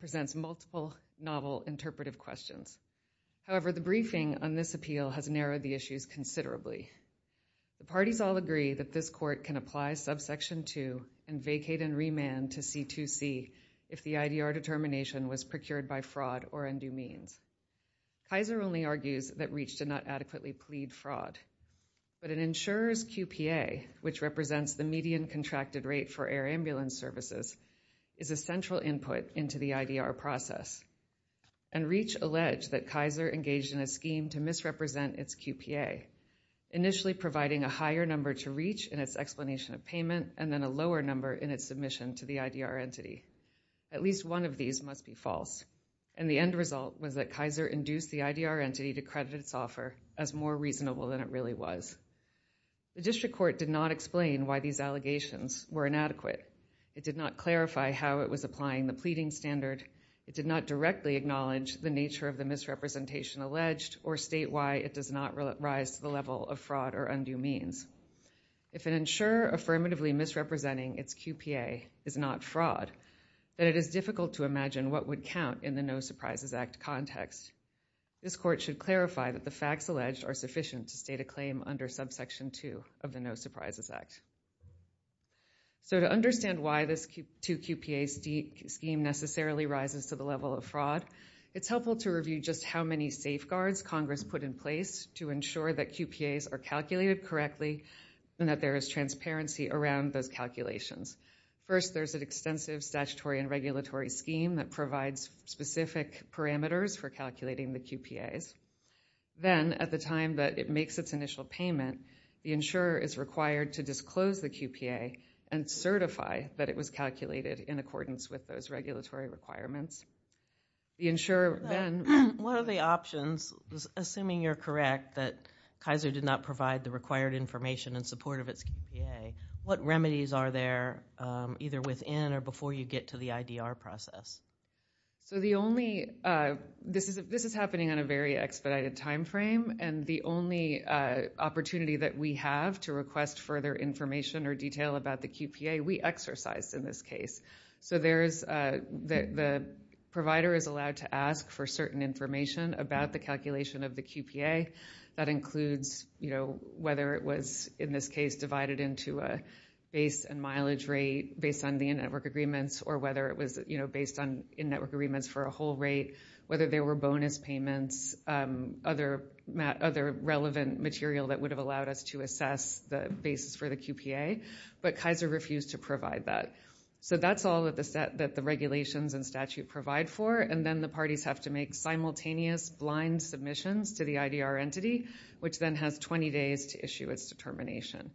The briefing on this appeal has narrowed the issues considerably. The parties all agree that this court can apply subsection 2 and vacate and remand to C2C if the IDR determination was procured by fraud or undue means. Kaiser only argues that REACH did not adequately plead fraud. But an insurer's QPA, which represents the median contracted rate for air ambulance services, is a central input into the IDR process. And REACH alleged that Kaiser engaged in a scheme to misrepresent its QPA, initially providing a higher number to REACH in its explanation of payment and then a lower number in its submission to the IDR entity. At least one of these must be false. And the end result was that Kaiser induced the IDR entity to credit its offer as more reasonable than it really was. The district court did not explain why these allegations were inadequate. It did not clarify how it was applying the pleading standard. It did not directly acknowledge the nature of the misrepresentation alleged or state why it does not rise to the level of fraud or undue means. If an insurer affirmatively misrepresenting its QPA is not fraud, then it is difficult to imagine what would count in the No Surprises Act context. This court should clarify that the facts alleged are sufficient to state a claim under subsection 2 of the No Surprises Act. So to understand why this two QPA scheme necessarily rises to the level of fraud, it's helpful to review just how many safeguards Congress put in place to ensure that QPAs are calculated correctly and that there is transparency around those calculations. First, there's an extensive statutory and regulatory scheme that provides specific parameters for calculating the QPAs. Then, at the time that it makes its initial payment, the insurer is required to disclose the QPA and certify that it was calculated in accordance with those regulatory requirements. One of the options, assuming you're correct that Kaiser did not provide the required information in support of its QPA, what remedies are there either within or before you get to the IDR process? This is happening on a very expedited timeframe, and the only opportunity that we have to request further information or detail about the QPA we exercise in this case. The provider is allowed to ask for certain information about the calculation of the QPA. That includes whether it was, in this case, divided into a base and mileage rate based on the in-network agreements or whether it was based on in-network agreements for a whole rate, whether there were bonus payments, other relevant material that would have allowed us to assess the basis for the QPA. But Kaiser refused to provide that. That's all that the regulations and statute provide for. Then, the parties have to make simultaneous blind submissions to the IDR entity, which then has 20 days to issue its determination.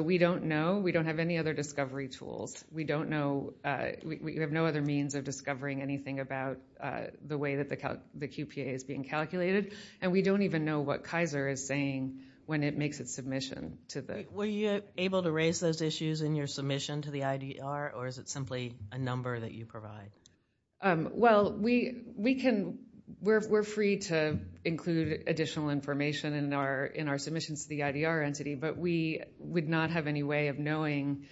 We don't know. We don't have any other discovery tools. We have no other means of discovering anything about the way that the QPA is being calculated. We don't even know what Kaiser is saying when it makes its submission. Were you able to raise those issues in your submission to the IDR, or is it simply a number that you provide? We're free to include additional information in our submissions to the IDR entity, but we would not have any way of knowing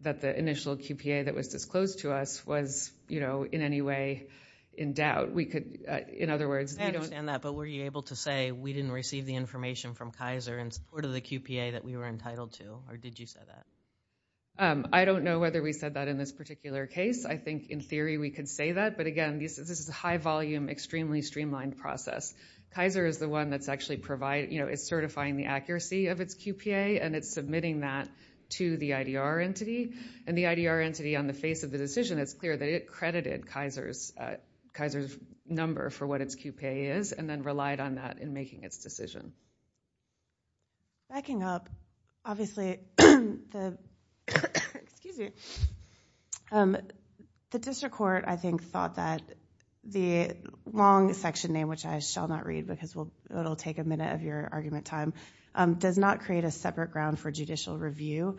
that the initial QPA that was disclosed to us was in any way in doubt. I understand that, but were you able to say we didn't receive the information from Kaiser in support of the QPA that we were entitled to, or did you say that? I don't know whether we said that in this particular case. I think, in theory, we could say that, but, again, this is a high-volume, extremely streamlined process. Kaiser is the one that's actually certifying the accuracy of its QPA, and it's submitting that to the IDR entity. And the IDR entity, on the face of the decision, it's clear that it credited Kaiser's number for what its QPA is and then relied on that in making its decision. Backing up, obviously, the district court, I think, thought that the long section name, which I shall not read because it will take a minute of your argument time, does not create a separate ground for judicial review.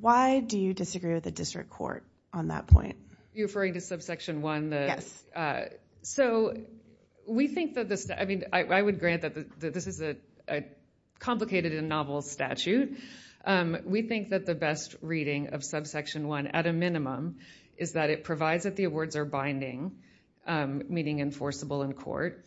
Why do you disagree with the district court on that point? Are you referring to subsection 1? I would grant that this is a complicated and novel statute. We think that the best reading of subsection 1, at a minimum, is that it provides that the awards are binding, meaning enforceable in court,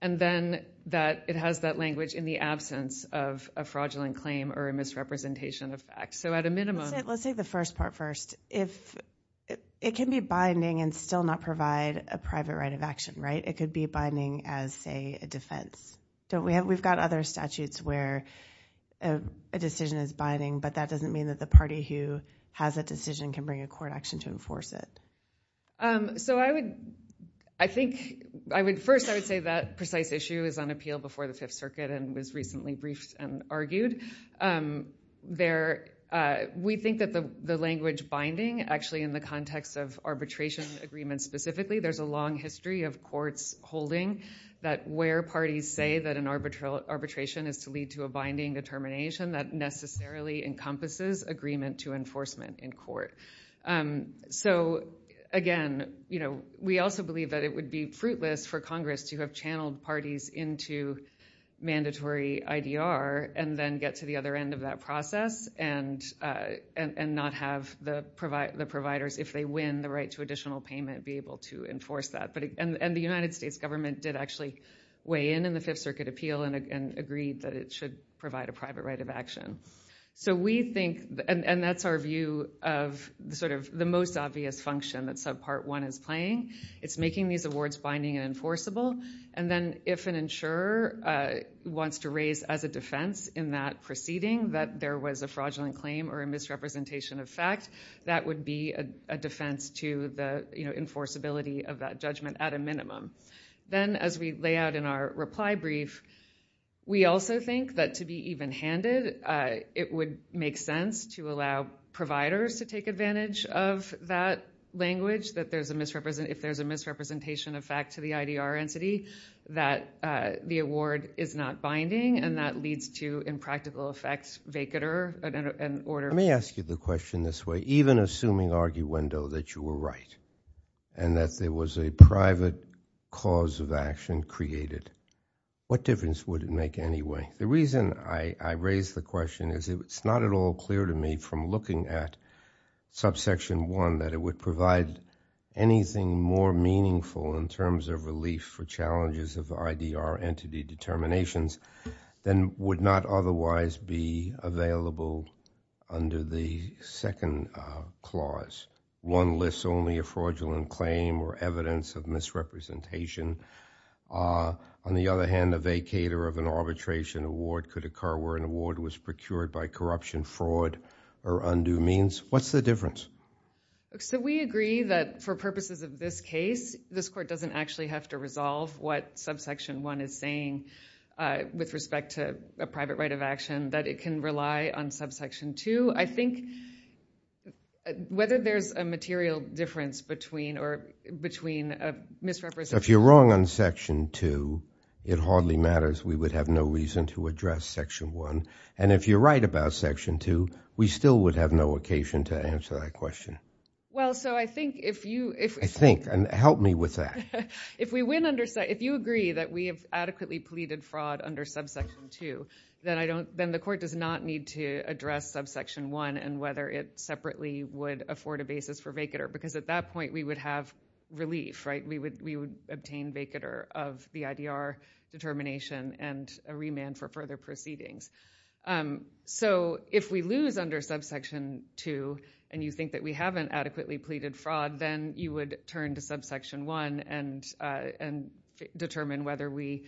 and then that it has that language in the absence of a fraudulent claim or a misrepresentation of facts. Let's take the first part first. It can be binding and still not provide a private right of action, right? It could be binding as, say, a defense. We've got other statutes where a decision is binding, but that doesn't mean that the party who has a decision can bring a court action to enforce it. First, I would say that precise issue is on appeal before the Fifth Circuit and was recently briefed and argued. We think that the language binding, actually, in the context of arbitration agreements specifically, there's a long history of courts holding that where parties say that an arbitration is to lead to a binding determination, that necessarily encompasses agreement to enforcement in court. Again, we also believe that it would be fruitless for Congress to have channeled parties into mandatory IDR and then get to the other end of that process and not have the providers, if they win the right to additional payment, be able to enforce that. The United States government did actually weigh in in the Fifth Circuit appeal and agreed that it should provide a private right of action. We think, and that's our view of the most obvious function that Subpart 1 is playing. It's making these awards binding and enforceable. Then, if an insurer wants to raise as a defense in that proceeding that there was a fraudulent claim or a misrepresentation of fact, that would be a defense to the enforceability of that judgment at a minimum. Then, as we lay out in our reply brief, we also think that to be even-handed, it would make sense to allow providers to take advantage of that language, that if there's a misrepresentation of fact to the IDR entity, that the award is not binding and that leads to impractical effects, vacater, and order. Let me ask you the question this way. Even assuming, arguendo, that you were right and that there was a private cause of action created, what difference would it make anyway? The reason I raise the question is it's not at all clear to me from looking at Subsection 1 that it would provide anything more meaningful in terms of relief for challenges of IDR entity determinations than would not otherwise be available under the second clause. One lists only a fraudulent claim or evidence of misrepresentation. On the other hand, a vacater of an arbitration award could occur where an award was procured by corruption, fraud, or undue means. What's the difference? We agree that for purposes of this case, this court doesn't actually have to resolve what Subsection 1 is saying with respect to a private right of action, that it can rely on Subsection 2. I think whether there's a material difference between misrepresentation... If you're wrong on Section 2, it hardly matters. We would have no reason to address Section 1. And if you're right about Section 2, we still would have no occasion to answer that question. Well, so I think if you... I think, and help me with that. If you agree that we have adequately pleaded fraud under Subsection 2, then the court does not need to address Subsection 1 and whether it separately would afford a basis for vacater. Because at that point, we would have relief, right? We would obtain vacater of the IDR determination and a remand for further proceedings. So, if we lose under Subsection 2 and you think that we haven't adequately pleaded fraud, then you would turn to Subsection 1 and determine whether we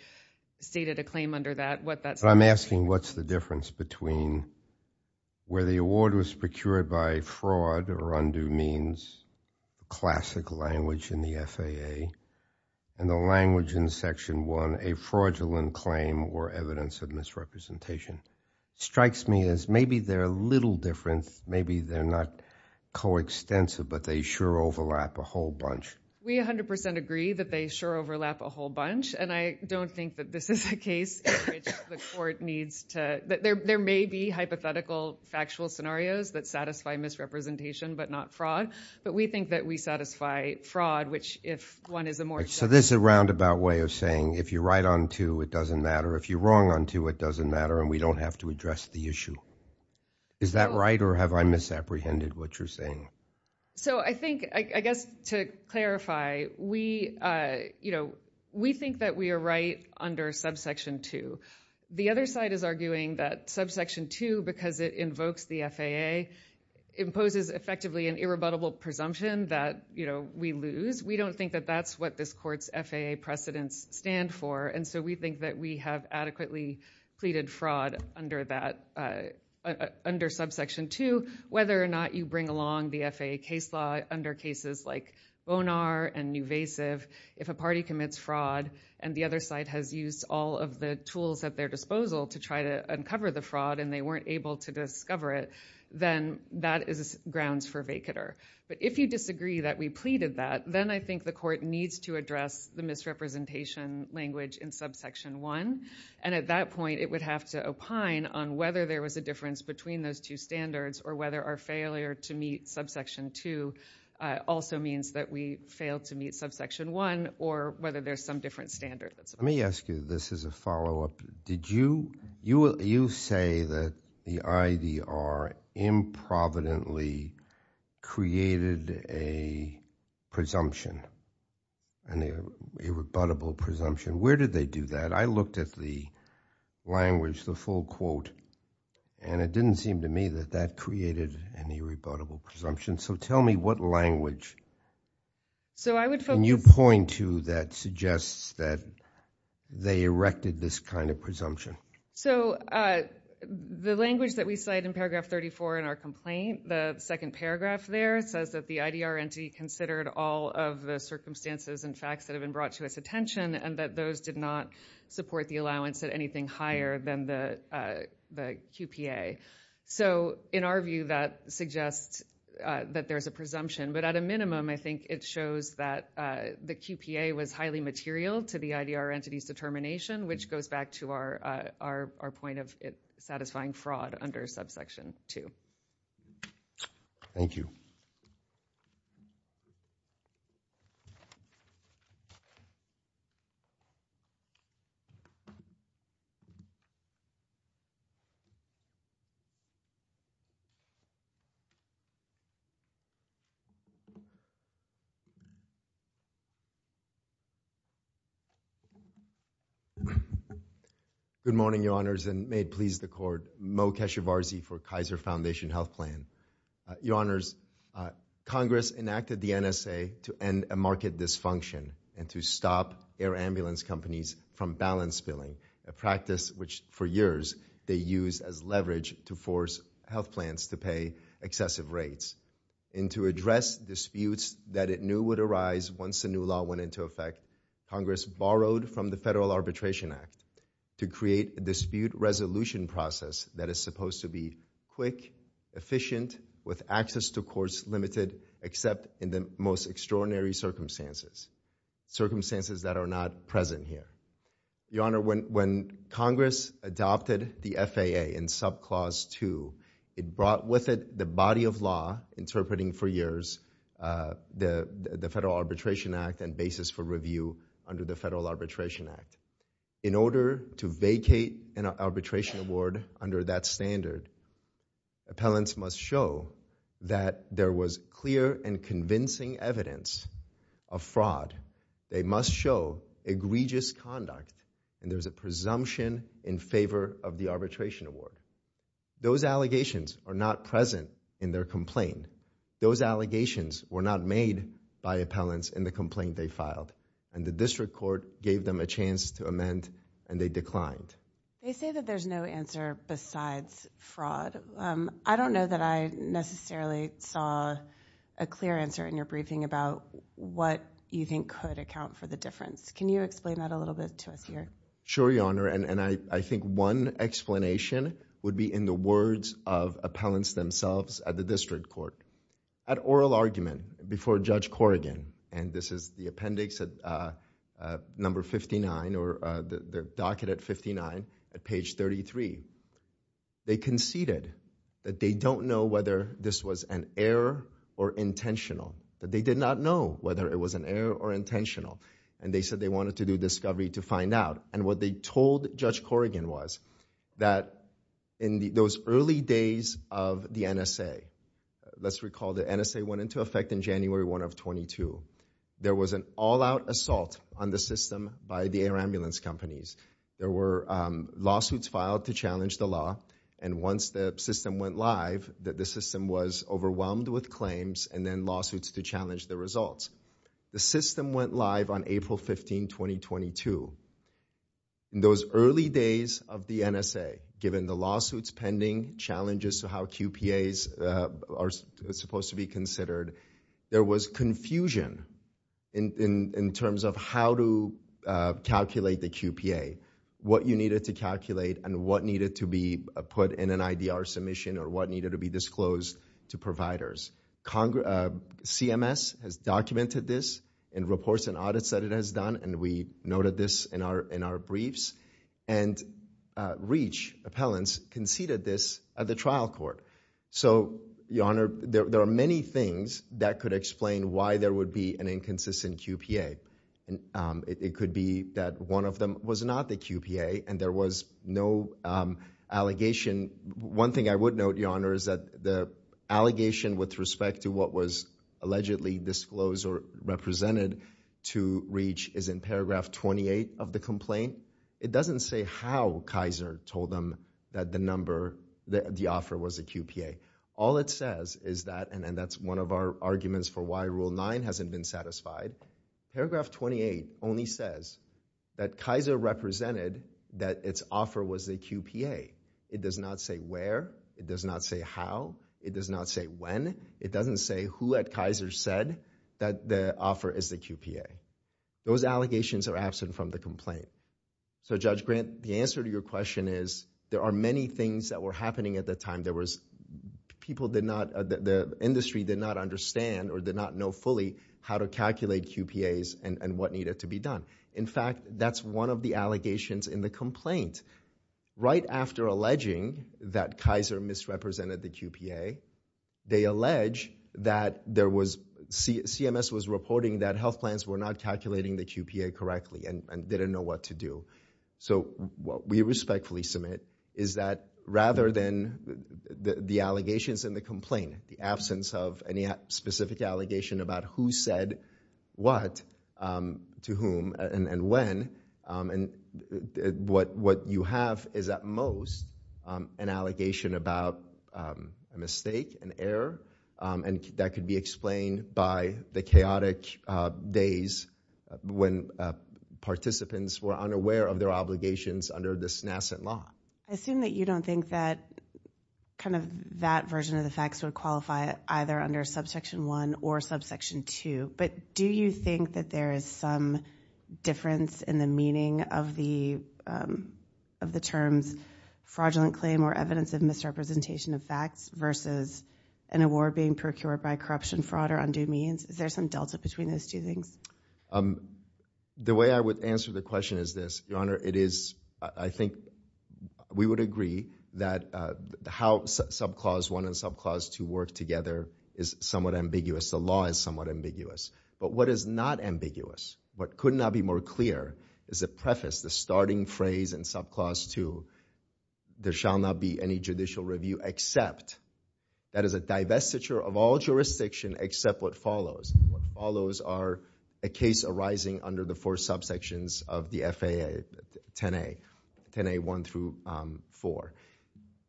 stated a claim under that, what that... Strikes me as maybe they're a little different. Maybe they're not coextensive, but they sure overlap a whole bunch. We 100% agree that they sure overlap a whole bunch. And I don't think that this is a case in which the court needs to... There may be hypothetical factual scenarios that satisfy misrepresentation, but not fraud. But we think that we satisfy fraud, which if one is a more... So, this is a roundabout way of saying if you're right on 2, it doesn't matter. If you're wrong on 2, it doesn't matter and we don't have to address the issue. Is that right or have I misapprehended what you're saying? So, I think, I guess to clarify, we, you know, we think that we are right under Subsection 2. The other side is arguing that Subsection 2, because it invokes the FAA, imposes effectively an irrebuttable presumption that, you know, we lose. We don't think that that's what this court's FAA precedents stand for. And so, we think that we have adequately pleaded fraud under that, under Subsection 2, whether or not you bring along the FAA case law under cases like Bonar and Nuvasiv. If a party commits fraud and the other side has used all of the tools at their disposal to try to uncover the fraud and they weren't able to discover it, then that is grounds for vacater. But if you disagree that we pleaded that, then I think the court needs to address the misrepresentation language in Subsection 1. And at that point, it would have to opine on whether there was a difference between those two standards or whether our failure to meet Subsection 2 also means that we failed to meet Subsection 1 or whether there's some different standards. Let me ask you this as a follow-up. Did you say that the IDR improvidently created a presumption, an irrebuttable presumption? Where did they do that? I looked at the language, the full quote, and it didn't seem to me that that created an irrebuttable presumption. So, tell me what language. Can you point to that suggests that they erected this kind of presumption? So, the language that we cite in paragraph 34 in our complaint, the second paragraph there, says that the IDR entity considered all of the circumstances and facts that have been brought to its attention and that those did not support the allowance at anything higher than the QPA. So, in our view, that suggests that there's a presumption. But at a minimum, I think it shows that the QPA was highly material to the IDR entity's determination, which goes back to our point of satisfying fraud under Subsection 2. Thank you. Good morning, Your Honors, and may it please the Court. Mo Keshavarzi for Kaiser Foundation Health Plan. Your Honors, Congress enacted the NSA to end market dysfunction and to stop air ambulance companies from balance billing, a practice which, for years, they used as leverage to force health plans to pay excessive rates. And to address disputes that it knew would arise once the new law went into effect, Congress borrowed from the Federal Arbitration Act to create a dispute resolution process that is supposed to be quick, efficient, with access to courts limited, except in the most extraordinary circumstances. Circumstances that are not present here. Your Honor, when Congress adopted the FAA in Subclause 2, it brought with it the body of law interpreting for years the Federal Arbitration Act and basis for review under the Federal Arbitration Act. In order to vacate an arbitration award under that standard, appellants must show that there was clear and convincing evidence of fraud. They must show egregious conduct and there's a presumption in favor of the arbitration award. Those allegations are not present in their complaint. Those allegations were not made by appellants in the complaint they filed. And the District Court gave them a chance to amend and they declined. They say that there's no answer besides fraud. I don't know that I necessarily saw a clear answer in your briefing about what you think could account for the difference. Can you explain that a little bit to us here? Sure, Your Honor, and I think one explanation would be in the words of appellants themselves at the District Court. At oral argument before Judge Corrigan, and this is the appendix at number 59 or the docket at 59 at page 33, they conceded that they don't know whether this was an error or intentional. That they did not know whether it was an error or intentional. And they said they wanted to do discovery to find out. And what they told Judge Corrigan was that in those early days of the NSA, let's recall the NSA went into effect in January 1 of 22. There was an all-out assault on the system by the air ambulance companies. There were lawsuits filed to challenge the law. And once the system went live, the system was overwhelmed with claims and then lawsuits to challenge the results. The system went live on April 15, 2022. In those early days of the NSA, given the lawsuits pending, challenges to how QPAs are supposed to be considered, there was confusion in terms of how to calculate the QPA. What you needed to calculate and what needed to be put in an IDR submission or what needed to be disclosed to providers. CMS has documented this in reports and audits that it has done. And we noted this in our briefs. And REACH appellants conceded this at the trial court. So, Your Honor, there are many things that could explain why there would be an inconsistent QPA. It could be that one of them was not the QPA and there was no allegation. One thing I would note, Your Honor, is that the allegation with respect to what was allegedly disclosed or represented to REACH is in paragraph 28 of the complaint. It doesn't say how Kaiser told them that the offer was a QPA. All it says is that, and that's one of our arguments for why Rule 9 hasn't been satisfied. Paragraph 28 only says that Kaiser represented that its offer was a QPA. It does not say where. It does not say how. It does not say when. It doesn't say who at Kaiser said that the offer is a QPA. Those allegations are absent from the complaint. So, Judge Grant, the answer to your question is there are many things that were happening at the time. There was people did not, the industry did not understand or did not know fully how to calculate QPAs and what needed to be done. In fact, that's one of the allegations in the complaint. Right after alleging that Kaiser misrepresented the QPA, they allege that CMS was reporting that health plans were not calculating the QPA correctly and didn't know what to do. What you have is at most an allegation about a mistake, an error, and that could be explained by the chaotic days when participants were unaware of their obligations under this nascent law. I assume that you don't think that kind of that version of the facts would qualify either under subsection 1 or subsection 2. But do you think that there is some difference in the meaning of the terms fraudulent claim or evidence of misrepresentation of facts versus an award being procured by corruption, fraud, or undue means? Is there some delta between those two things? The way I would answer the question is this. Your Honor, it is, I think we would agree that how subclause 1 and subclause 2 work together is somewhat ambiguous. The law is somewhat ambiguous. But what is not ambiguous, what could not be more clear is the preface, the starting phrase in subclause 2, there shall not be any judicial review except that is a divestiture of all jurisdiction except what follows. What follows are a case arising under the four subsections of the FAA, 10A, 1 through 4.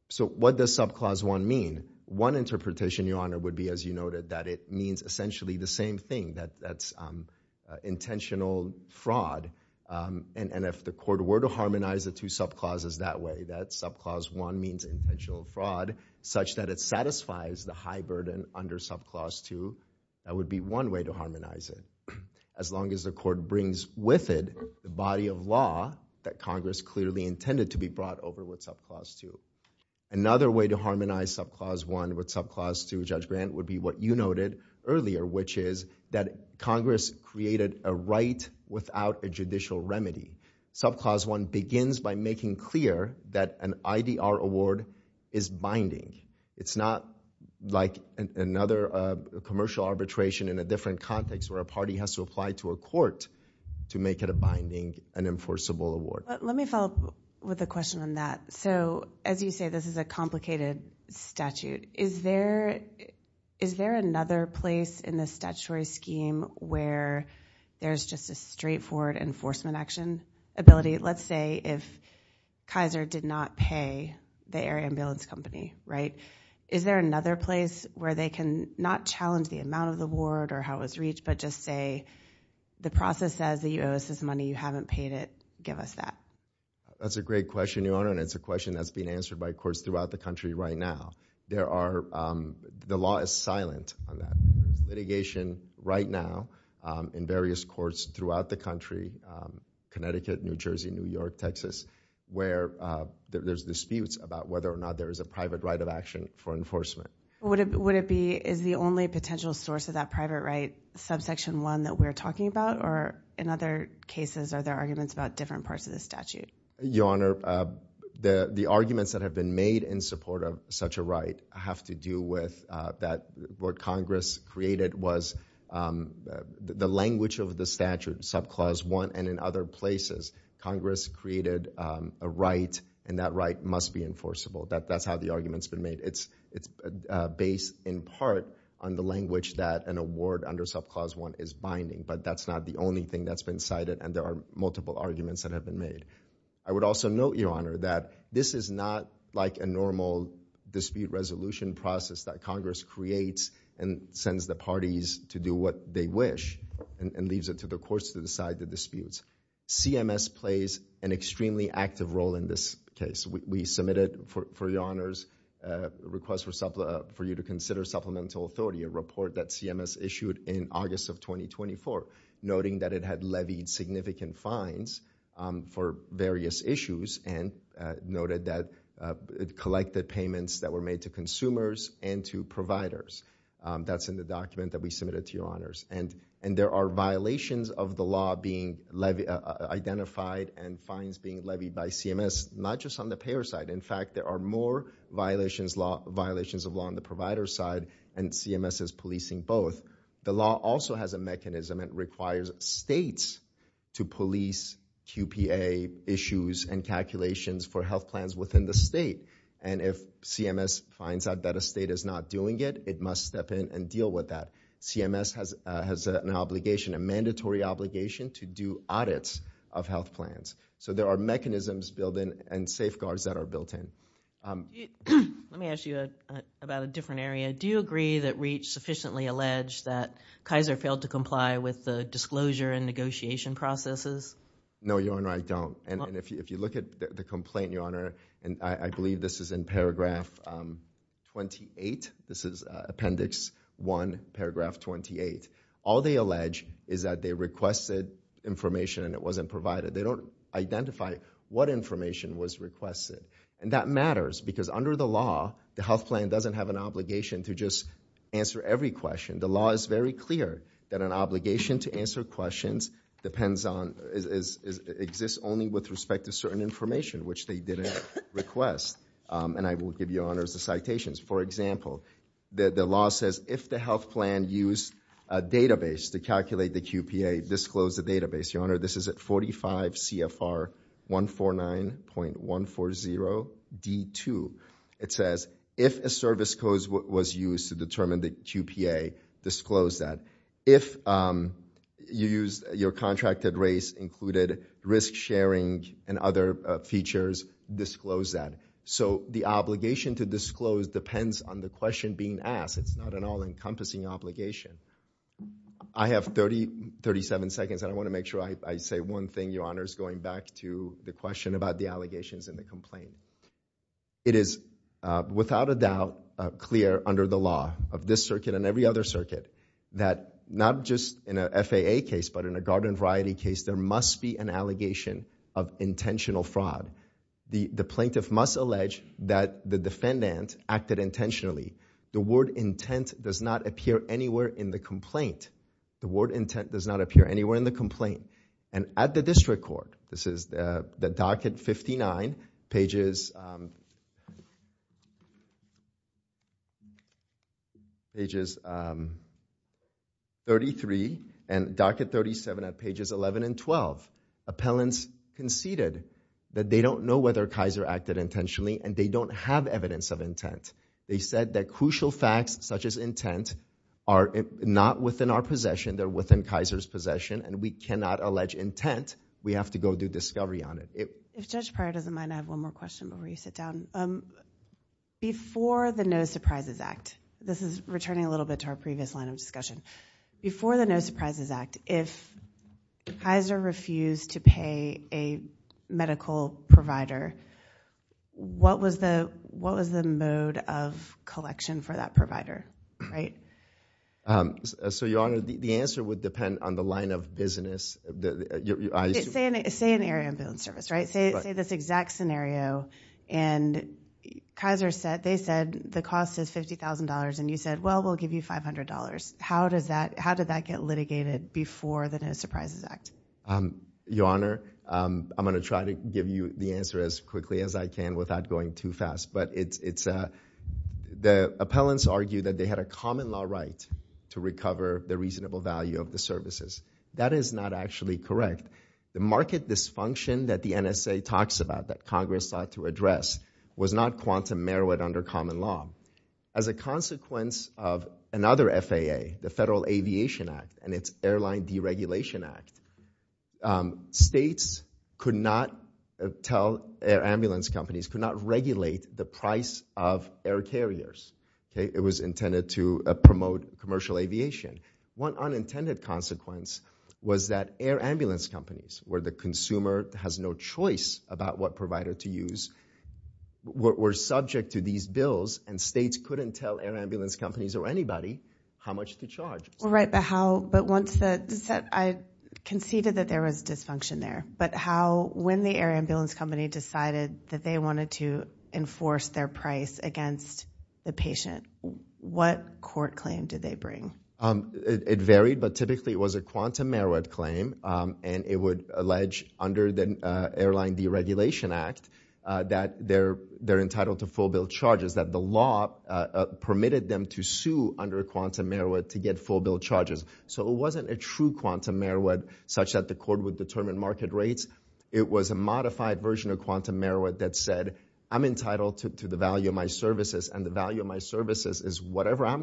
So what does subclause 1 mean? One interpretation, Your Honor, would be as you noted that it means essentially the same thing, that's intentional fraud. And if the court were to harmonize the two subclauses that way, that subclause 1 means intentional fraud such that it satisfies the high burden under subclause 2. That would be one way to harmonize it. As long as the court brings with it the body of law that Congress clearly intended to be brought over with subclause 2. Another way to harmonize subclause 1 with subclause 2, Judge Grant, would be what you noted earlier, which is that Congress created a right without a judicial remedy. Subclause 1 begins by making clear that an IDR award is binding. It's not like another commercial arbitration in a different context where a party has to apply to a court to make it a binding and enforceable award. Let me follow up with a question on that. So as you say, this is a complicated statute. Is there another place in the statutory scheme where there's just a straightforward enforcement action ability? Let's say if Kaiser did not pay the air ambulance company, is there another place where they can not challenge the amount of the award or how it was reached, but just say the process says the U.S. has money, you haven't paid it, give us that? That's a great question, Your Honor, and it's a question that's being answered by courts throughout the country right now. The law is silent on that. There's an investigation right now in various courts throughout the country, Connecticut, New Jersey, New York, Texas, where there's disputes about whether or not there is a private right of action for enforcement. Would it be, is the only potential source of that private right subsection 1 that we're talking about, or in other cases are there arguments about different parts of the statute? Your Honor, the arguments that have been made in support of such a right have to do with what Congress created was the language of the statute, subclause 1, and in other places, Congress created a right, and that right must be enforceable. That's how the argument's been made. It's based in part on the language that an award under subclause 1 is binding, but that's not the only thing that's been cited, and there are multiple arguments that have been made. I would also note, Your Honor, that this is not like a normal dispute resolution process that Congress creates and sends the parties to do what they wish and leaves it to the courts to decide the disputes. CMS plays an extremely active role in this case. We submitted for Your Honor's request for you to consider supplemental authority, a report that CMS issued in August of 2024, noting that it had levied significant fines for various issues and noted that it collected payments that were made to consumers and to providers. That's in the document that we submitted to Your Honors, and there are violations of the law being identified and fines being levied by CMS, not just on the payer side. In fact, there are more violations of law on the provider side, and CMS is policing both. The law also has a mechanism. It requires states to police QPA issues and calculations for health plans within the state, and if CMS finds out that a state is not doing it, it must step in and deal with that. CMS has an obligation, a mandatory obligation, to do audits of health plans, so there are mechanisms built in and safeguards that are built in. Let me ask you about a different area. Do you agree that Reach sufficiently alleged that Kaiser failed to comply with the disclosure and negotiation processes? No, Your Honor, I don't, and if you look at the complaint, Your Honor, and I believe this is in Paragraph 28, this is Appendix 1, Paragraph 28. All they allege is that they requested information and it wasn't provided. They don't identify what information was requested, and that matters because under the law, the health plan doesn't have an obligation to just answer every question. The law is very clear that an obligation to answer questions depends on, exists only with respect to certain information, which they didn't request, and I will give Your Honor the citations. For example, the law says if the health plan used a database to calculate the QPA, disclose the database. Your Honor, this is at 45 CFR 149.140 D2. It says if a service code was used to determine the QPA, disclose that. If your contracted race included risk sharing and other features, disclose that. So the obligation to disclose depends on the question being asked. It's not an all-encompassing obligation. I have 37 seconds, and I want to make sure I say one thing, Your Honor, is going back to the question about the allegations in the complaint. It is without a doubt clear under the law of this circuit and every other circuit that not just in a FAA case but in a garden variety case, there must be an allegation of intentional fraud. The plaintiff must allege that the defendant acted intentionally. The word intent does not appear anywhere in the complaint. The word intent does not appear anywhere in the complaint. At the district court, this is the docket 59 pages 33 and docket 37 at pages 11 and 12, appellants conceded that they don't know whether Kaiser acted intentionally and they don't have evidence of intent. They said that crucial facts such as intent are not within our possession. They're within Kaiser's possession, and we cannot allege intent. We have to go do discovery on it. If Judge Pryor doesn't mind, I have one more question before you sit down. Before the No Surprises Act, this is returning a little bit to our previous line of discussion. Before the No Surprises Act, if Kaiser refused to pay a medical provider, what was the mode of collection for that provider, right? So, Your Honor, the answer would depend on the line of business. Say an air ambulance service, right? Say this exact scenario, and Kaiser said they said the cost is $50,000, and you said, well, we'll give you $500. How did that get litigated before the No Surprises Act? Your Honor, I'm going to try to give you the answer as quickly as I can without going too fast, but the appellants argue that they had a common law right to recover the reasonable value of the services. That is not actually correct. The market dysfunction that the NSA talks about, that Congress sought to address, was not quantum merit under common law. As a consequence of another FAA, the Federal Aviation Act and its Airline Deregulation Act, states could not tell air ambulance companies, could not regulate the price of air carriers. It was intended to promote commercial aviation. One unintended consequence was that air ambulance companies, where the consumer has no choice about what provider to use, were subject to these bills, and states couldn't tell air ambulance companies or anybody how much to charge. I conceded that there was dysfunction there, but when the air ambulance company decided that they wanted to enforce their price against the patient, what court claim did they bring? It varied, but typically it was a quantum merit claim, and it would allege under the Airline Deregulation Act that they're entitled to full bill charges, because the law permitted them to sue under quantum merit to get full bill charges. So it wasn't a true quantum merit, such that the court would determine market rates. It was a modified version of quantum merit that said, I'm entitled to the value of my services, and the value of my services is whatever I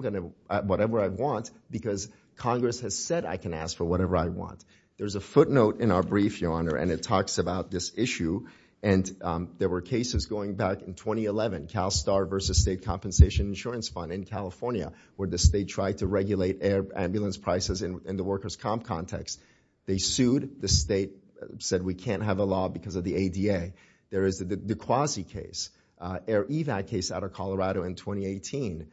want, because Congress has said I can ask for whatever I want. There's a footnote in our brief, Your Honor, and it talks about this issue. There were cases going back in 2011, CalSTAR versus State Compensation Insurance Fund in California, where the state tried to regulate air ambulance prices in the workers' comp context. They sued. The state said we can't have a law because of the ADA. There is the De Quasi case, air EVAC case out of Colorado in 2018,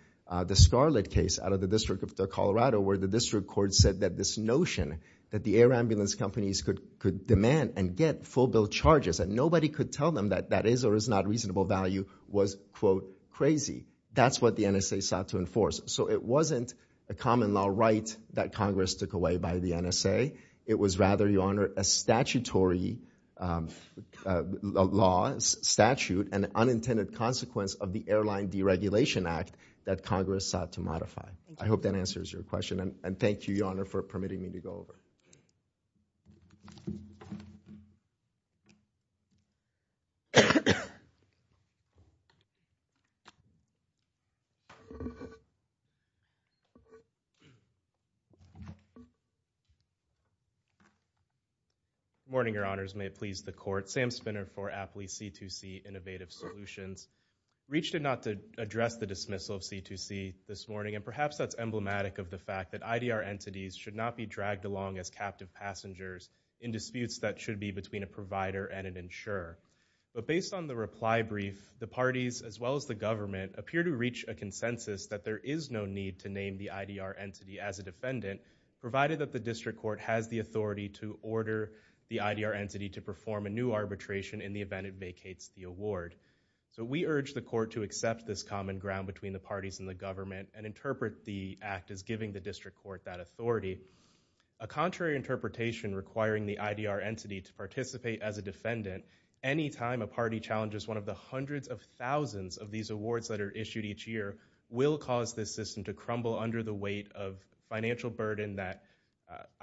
the Scarlett case out of the District of Colorado, where the district court said that this notion that the air ambulance companies could demand and get full bill charges and nobody could tell them that that is or is not reasonable value was, quote, crazy. That's what the NSA sought to enforce. So it wasn't a common law right that Congress took away by the NSA. It was rather, Your Honor, a statutory law, statute, and unintended consequence of the Airline Deregulation Act that Congress sought to modify. I hope that answers your question, and thank you, Your Honor, for permitting me to go over. Thank you. Good morning, Your Honors. May it please the Court. Sam Spinner for Appley C2C Innovative Solutions. REACH did not address the dismissal of C2C this morning, and perhaps that's emblematic of the fact that IDR entities should not be dragged along as captive passengers in disputes that should be between a provider and an insurer. But based on the reply brief, the parties, as well as the government, appear to reach a consensus that there is no need to name the IDR entity as a defendant, provided that the district court has the authority to order the IDR entity to perform a new arbitration in the event it vacates the award. So we urge the court to accept this common ground between the parties and the government and interpret the act as giving the district court that authority. A contrary interpretation requiring the IDR entity to participate as a defendant any time a party challenges one of the hundreds of thousands of these awards that are issued each year will cause this system to crumble under the weight of financial burden that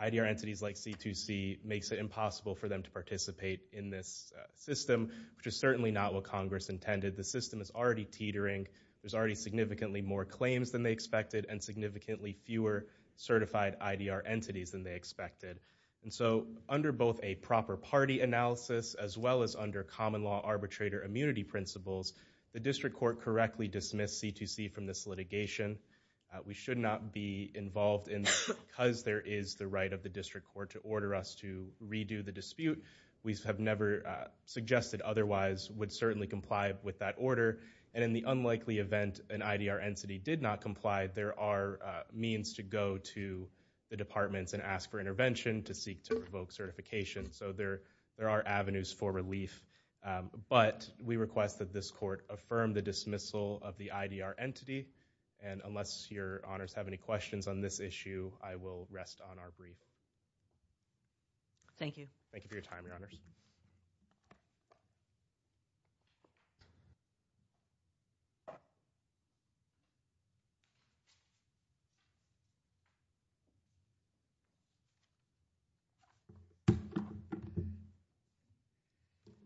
IDR entities like C2C makes it impossible for them to participate in this system, which is certainly not what Congress intended. The system is already teetering. There's already significantly more claims than they expected and significantly fewer certified IDR entities than they expected. And so under both a proper party analysis, as well as under common law arbitrator immunity principles, the district court correctly dismissed C2C from this litigation. We should not be involved in this because there is the right of the district court to order us to redo the dispute. We have never suggested otherwise would certainly comply with that order. And in the unlikely event an IDR entity did not comply, there are means to go to the departments and ask for intervention to seek to revoke certification. So there are avenues for relief. But we request that this court affirm the dismissal of the IDR entity. And unless your honors have any questions on this issue, I will rest on our brief. Thank you. Thank you for your time, your honors.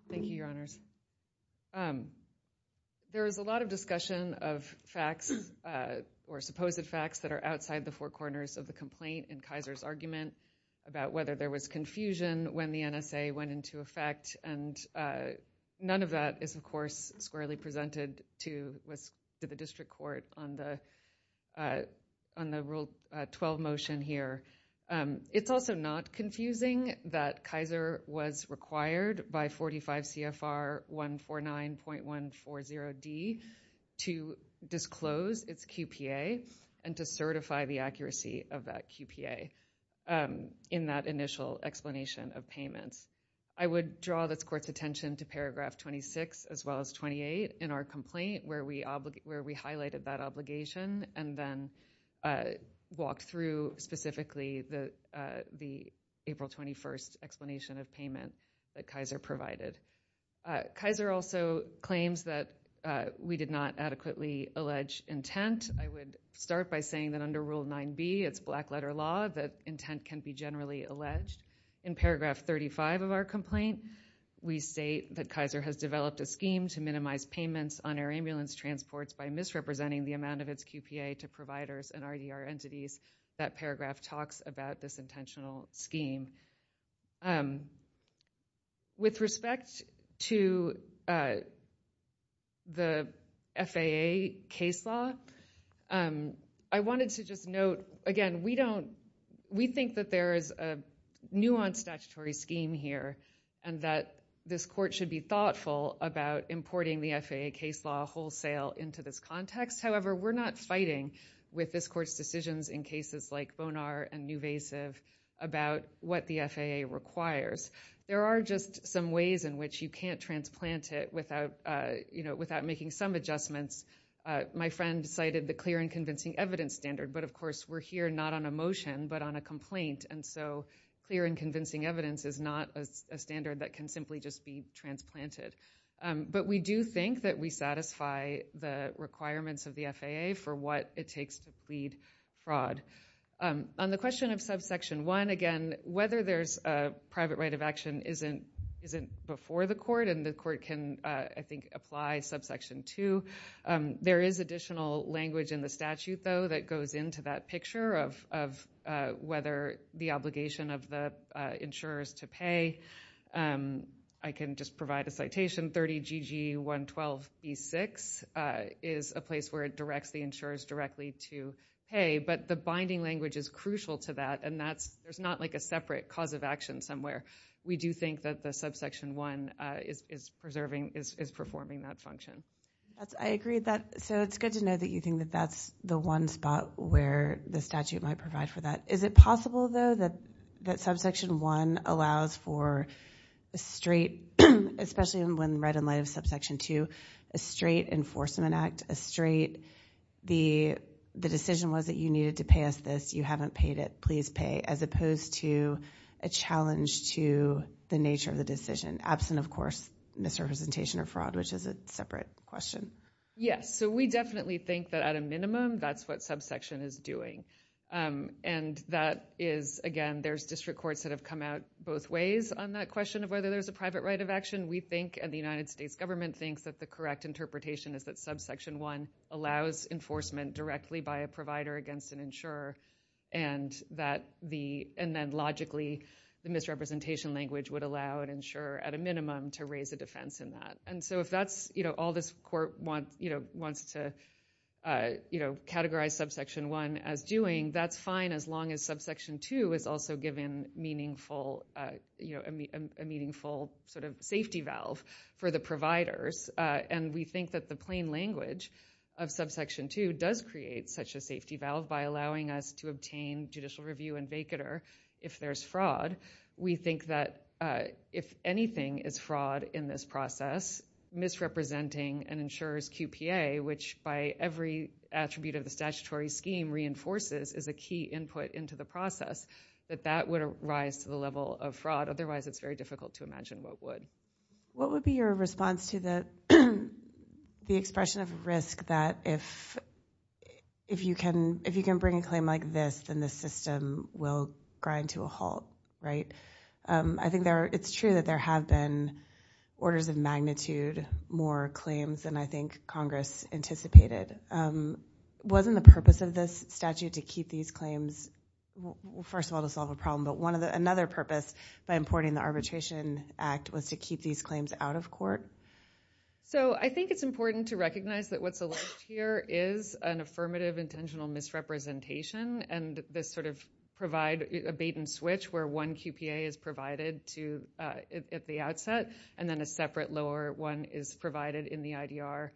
Thank you, your honors. There is a lot of discussion of facts or supposed facts that are outside the four corners of the complaint in Kaiser's argument about whether there was confusion when the NSA went into effect. And none of that is, of course, squarely presented to the district court on the Rule 12 motion here. It's also not confusing that Kaiser was required by 45 CFR 149.140D to disclose its QPA and to certify the accuracy of that QPA in that initial explanation of payments. I would draw this court's attention to paragraph 26 as well as 28 in our complaint where we highlighted that obligation and then walked through specifically the April 21st explanation of payment that Kaiser provided. Kaiser also claims that we did not adequately allege intent. I would start by saying that under Rule 9B, it's black letter law, that intent can be generally alleged. In paragraph 35 of our complaint, we state that Kaiser has developed a scheme to minimize payments on air ambulance transports by misrepresenting the amount of its QPA to providers and RER entities. That paragraph talks about this intentional scheme. With respect to the FAA case law, I wanted to just note, again, we think that there is a nuanced statutory scheme here and that this court should be thoughtful about importing the FAA case law wholesale into this context. However, we're not fighting with this court's decisions in cases like Bonar and Nuvasiv about what the FAA requires. There are just some ways in which you can't transplant it without making some adjustments. My friend cited the clear and convincing evidence standard, but of course we're here not on a motion but on a complaint, and so clear and convincing evidence is not a standard that can simply just be transplanted. But we do think that we satisfy the requirements of the FAA for what it takes to plead fraud. On the question of subsection 1, again, whether there's a private right of action isn't before the court, and the court can, I think, apply subsection 2. There is additional language in the statute, though, that goes into that picture of whether the obligation of the insurers to pay. I can just provide a citation. 30 GG 112 P6 is a place where it directs the insurers directly to pay, but the binding language is crucial to that, and there's not like a separate cause of action somewhere. We do think that the subsection 1 is performing that function. I agree with that. So it's good to know that you think that that's the one spot where the statute might provide for that. Is it possible, though, that subsection 1 allows for a straight, especially when read in light of subsection 2, a straight enforcement act, a straight the decision was that you needed to pay us this. You haven't paid it. Please pay, as opposed to a challenge to the nature of the decision, absent, of course, misrepresentation or fraud, which is a separate question. Yes. So we definitely think that at a minimum that's what subsection is doing, and that is, again, there's district courts that have come out both ways on that question of whether there's a private right of action. We think, and the United States government thinks, that the correct interpretation is that subsection 1 allows enforcement directly by a provider against an insurer, and then logically the misrepresentation language would allow an insurer at a minimum to raise a defense in that. So if all this court wants to categorize subsection 1 as doing, that's fine as long as subsection 2 is also given a meaningful sort of safety valve for the providers, and we think that the plain language of subsection 2 does create such a safety valve by allowing us to obtain judicial review and vacater if there's fraud. We think that if anything is fraud in this process, misrepresenting an insurer's QPA, which by every attribute of the statutory scheme reinforces as a key input into the process, that that would rise to the level of fraud. Otherwise it's very difficult to imagine what would. What would be your response to the expression of risk that if you can bring a claim like this, then the system will grind to a halt, right? I think it's true that there have been orders of magnitude more claims than I think Congress anticipated. Wasn't the purpose of this statute to keep these claims, first of all to solve a problem, but another purpose by importing the Arbitration Act was to keep these claims out of court? I think it's important to recognize that what's alleged here is an affirmative intentional misrepresentation and this sort of bait and switch where one QPA is provided at the outset and then a separate lower one is provided in the IDR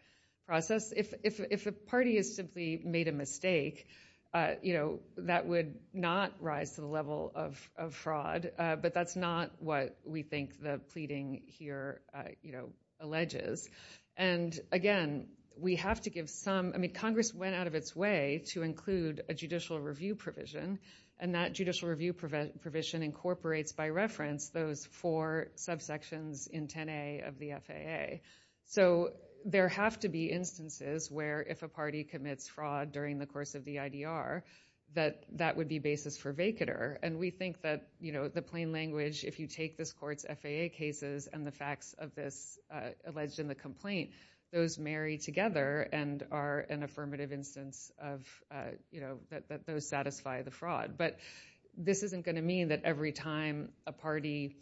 process. If a party has simply made a mistake, that would not rise to the level of fraud, but that's not what we think the pleading here alleges. Again, we have to give some... Congress went out of its way to include a judicial review provision and that judicial review provision incorporates by reference those four subsections in 10A of the FAA. There have to be instances where if a party commits fraud during the course of the IDR that that would be basis for vacater. We think that the plain language, if you take this court's FAA cases and the facts of this alleged in the complaint, those marry together and are an affirmative instance that those satisfy the fraud. But this isn't going to mean that every time a party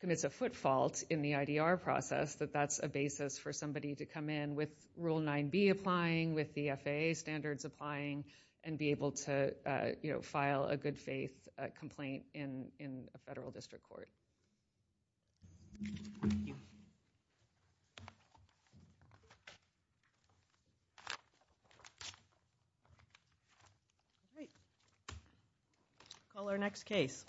commits a foot fault in the IDR process that that's a basis for somebody to come in with Rule 9B applying, with the FAA standards applying and be able to file a good faith complaint in a federal district court. Call our next case.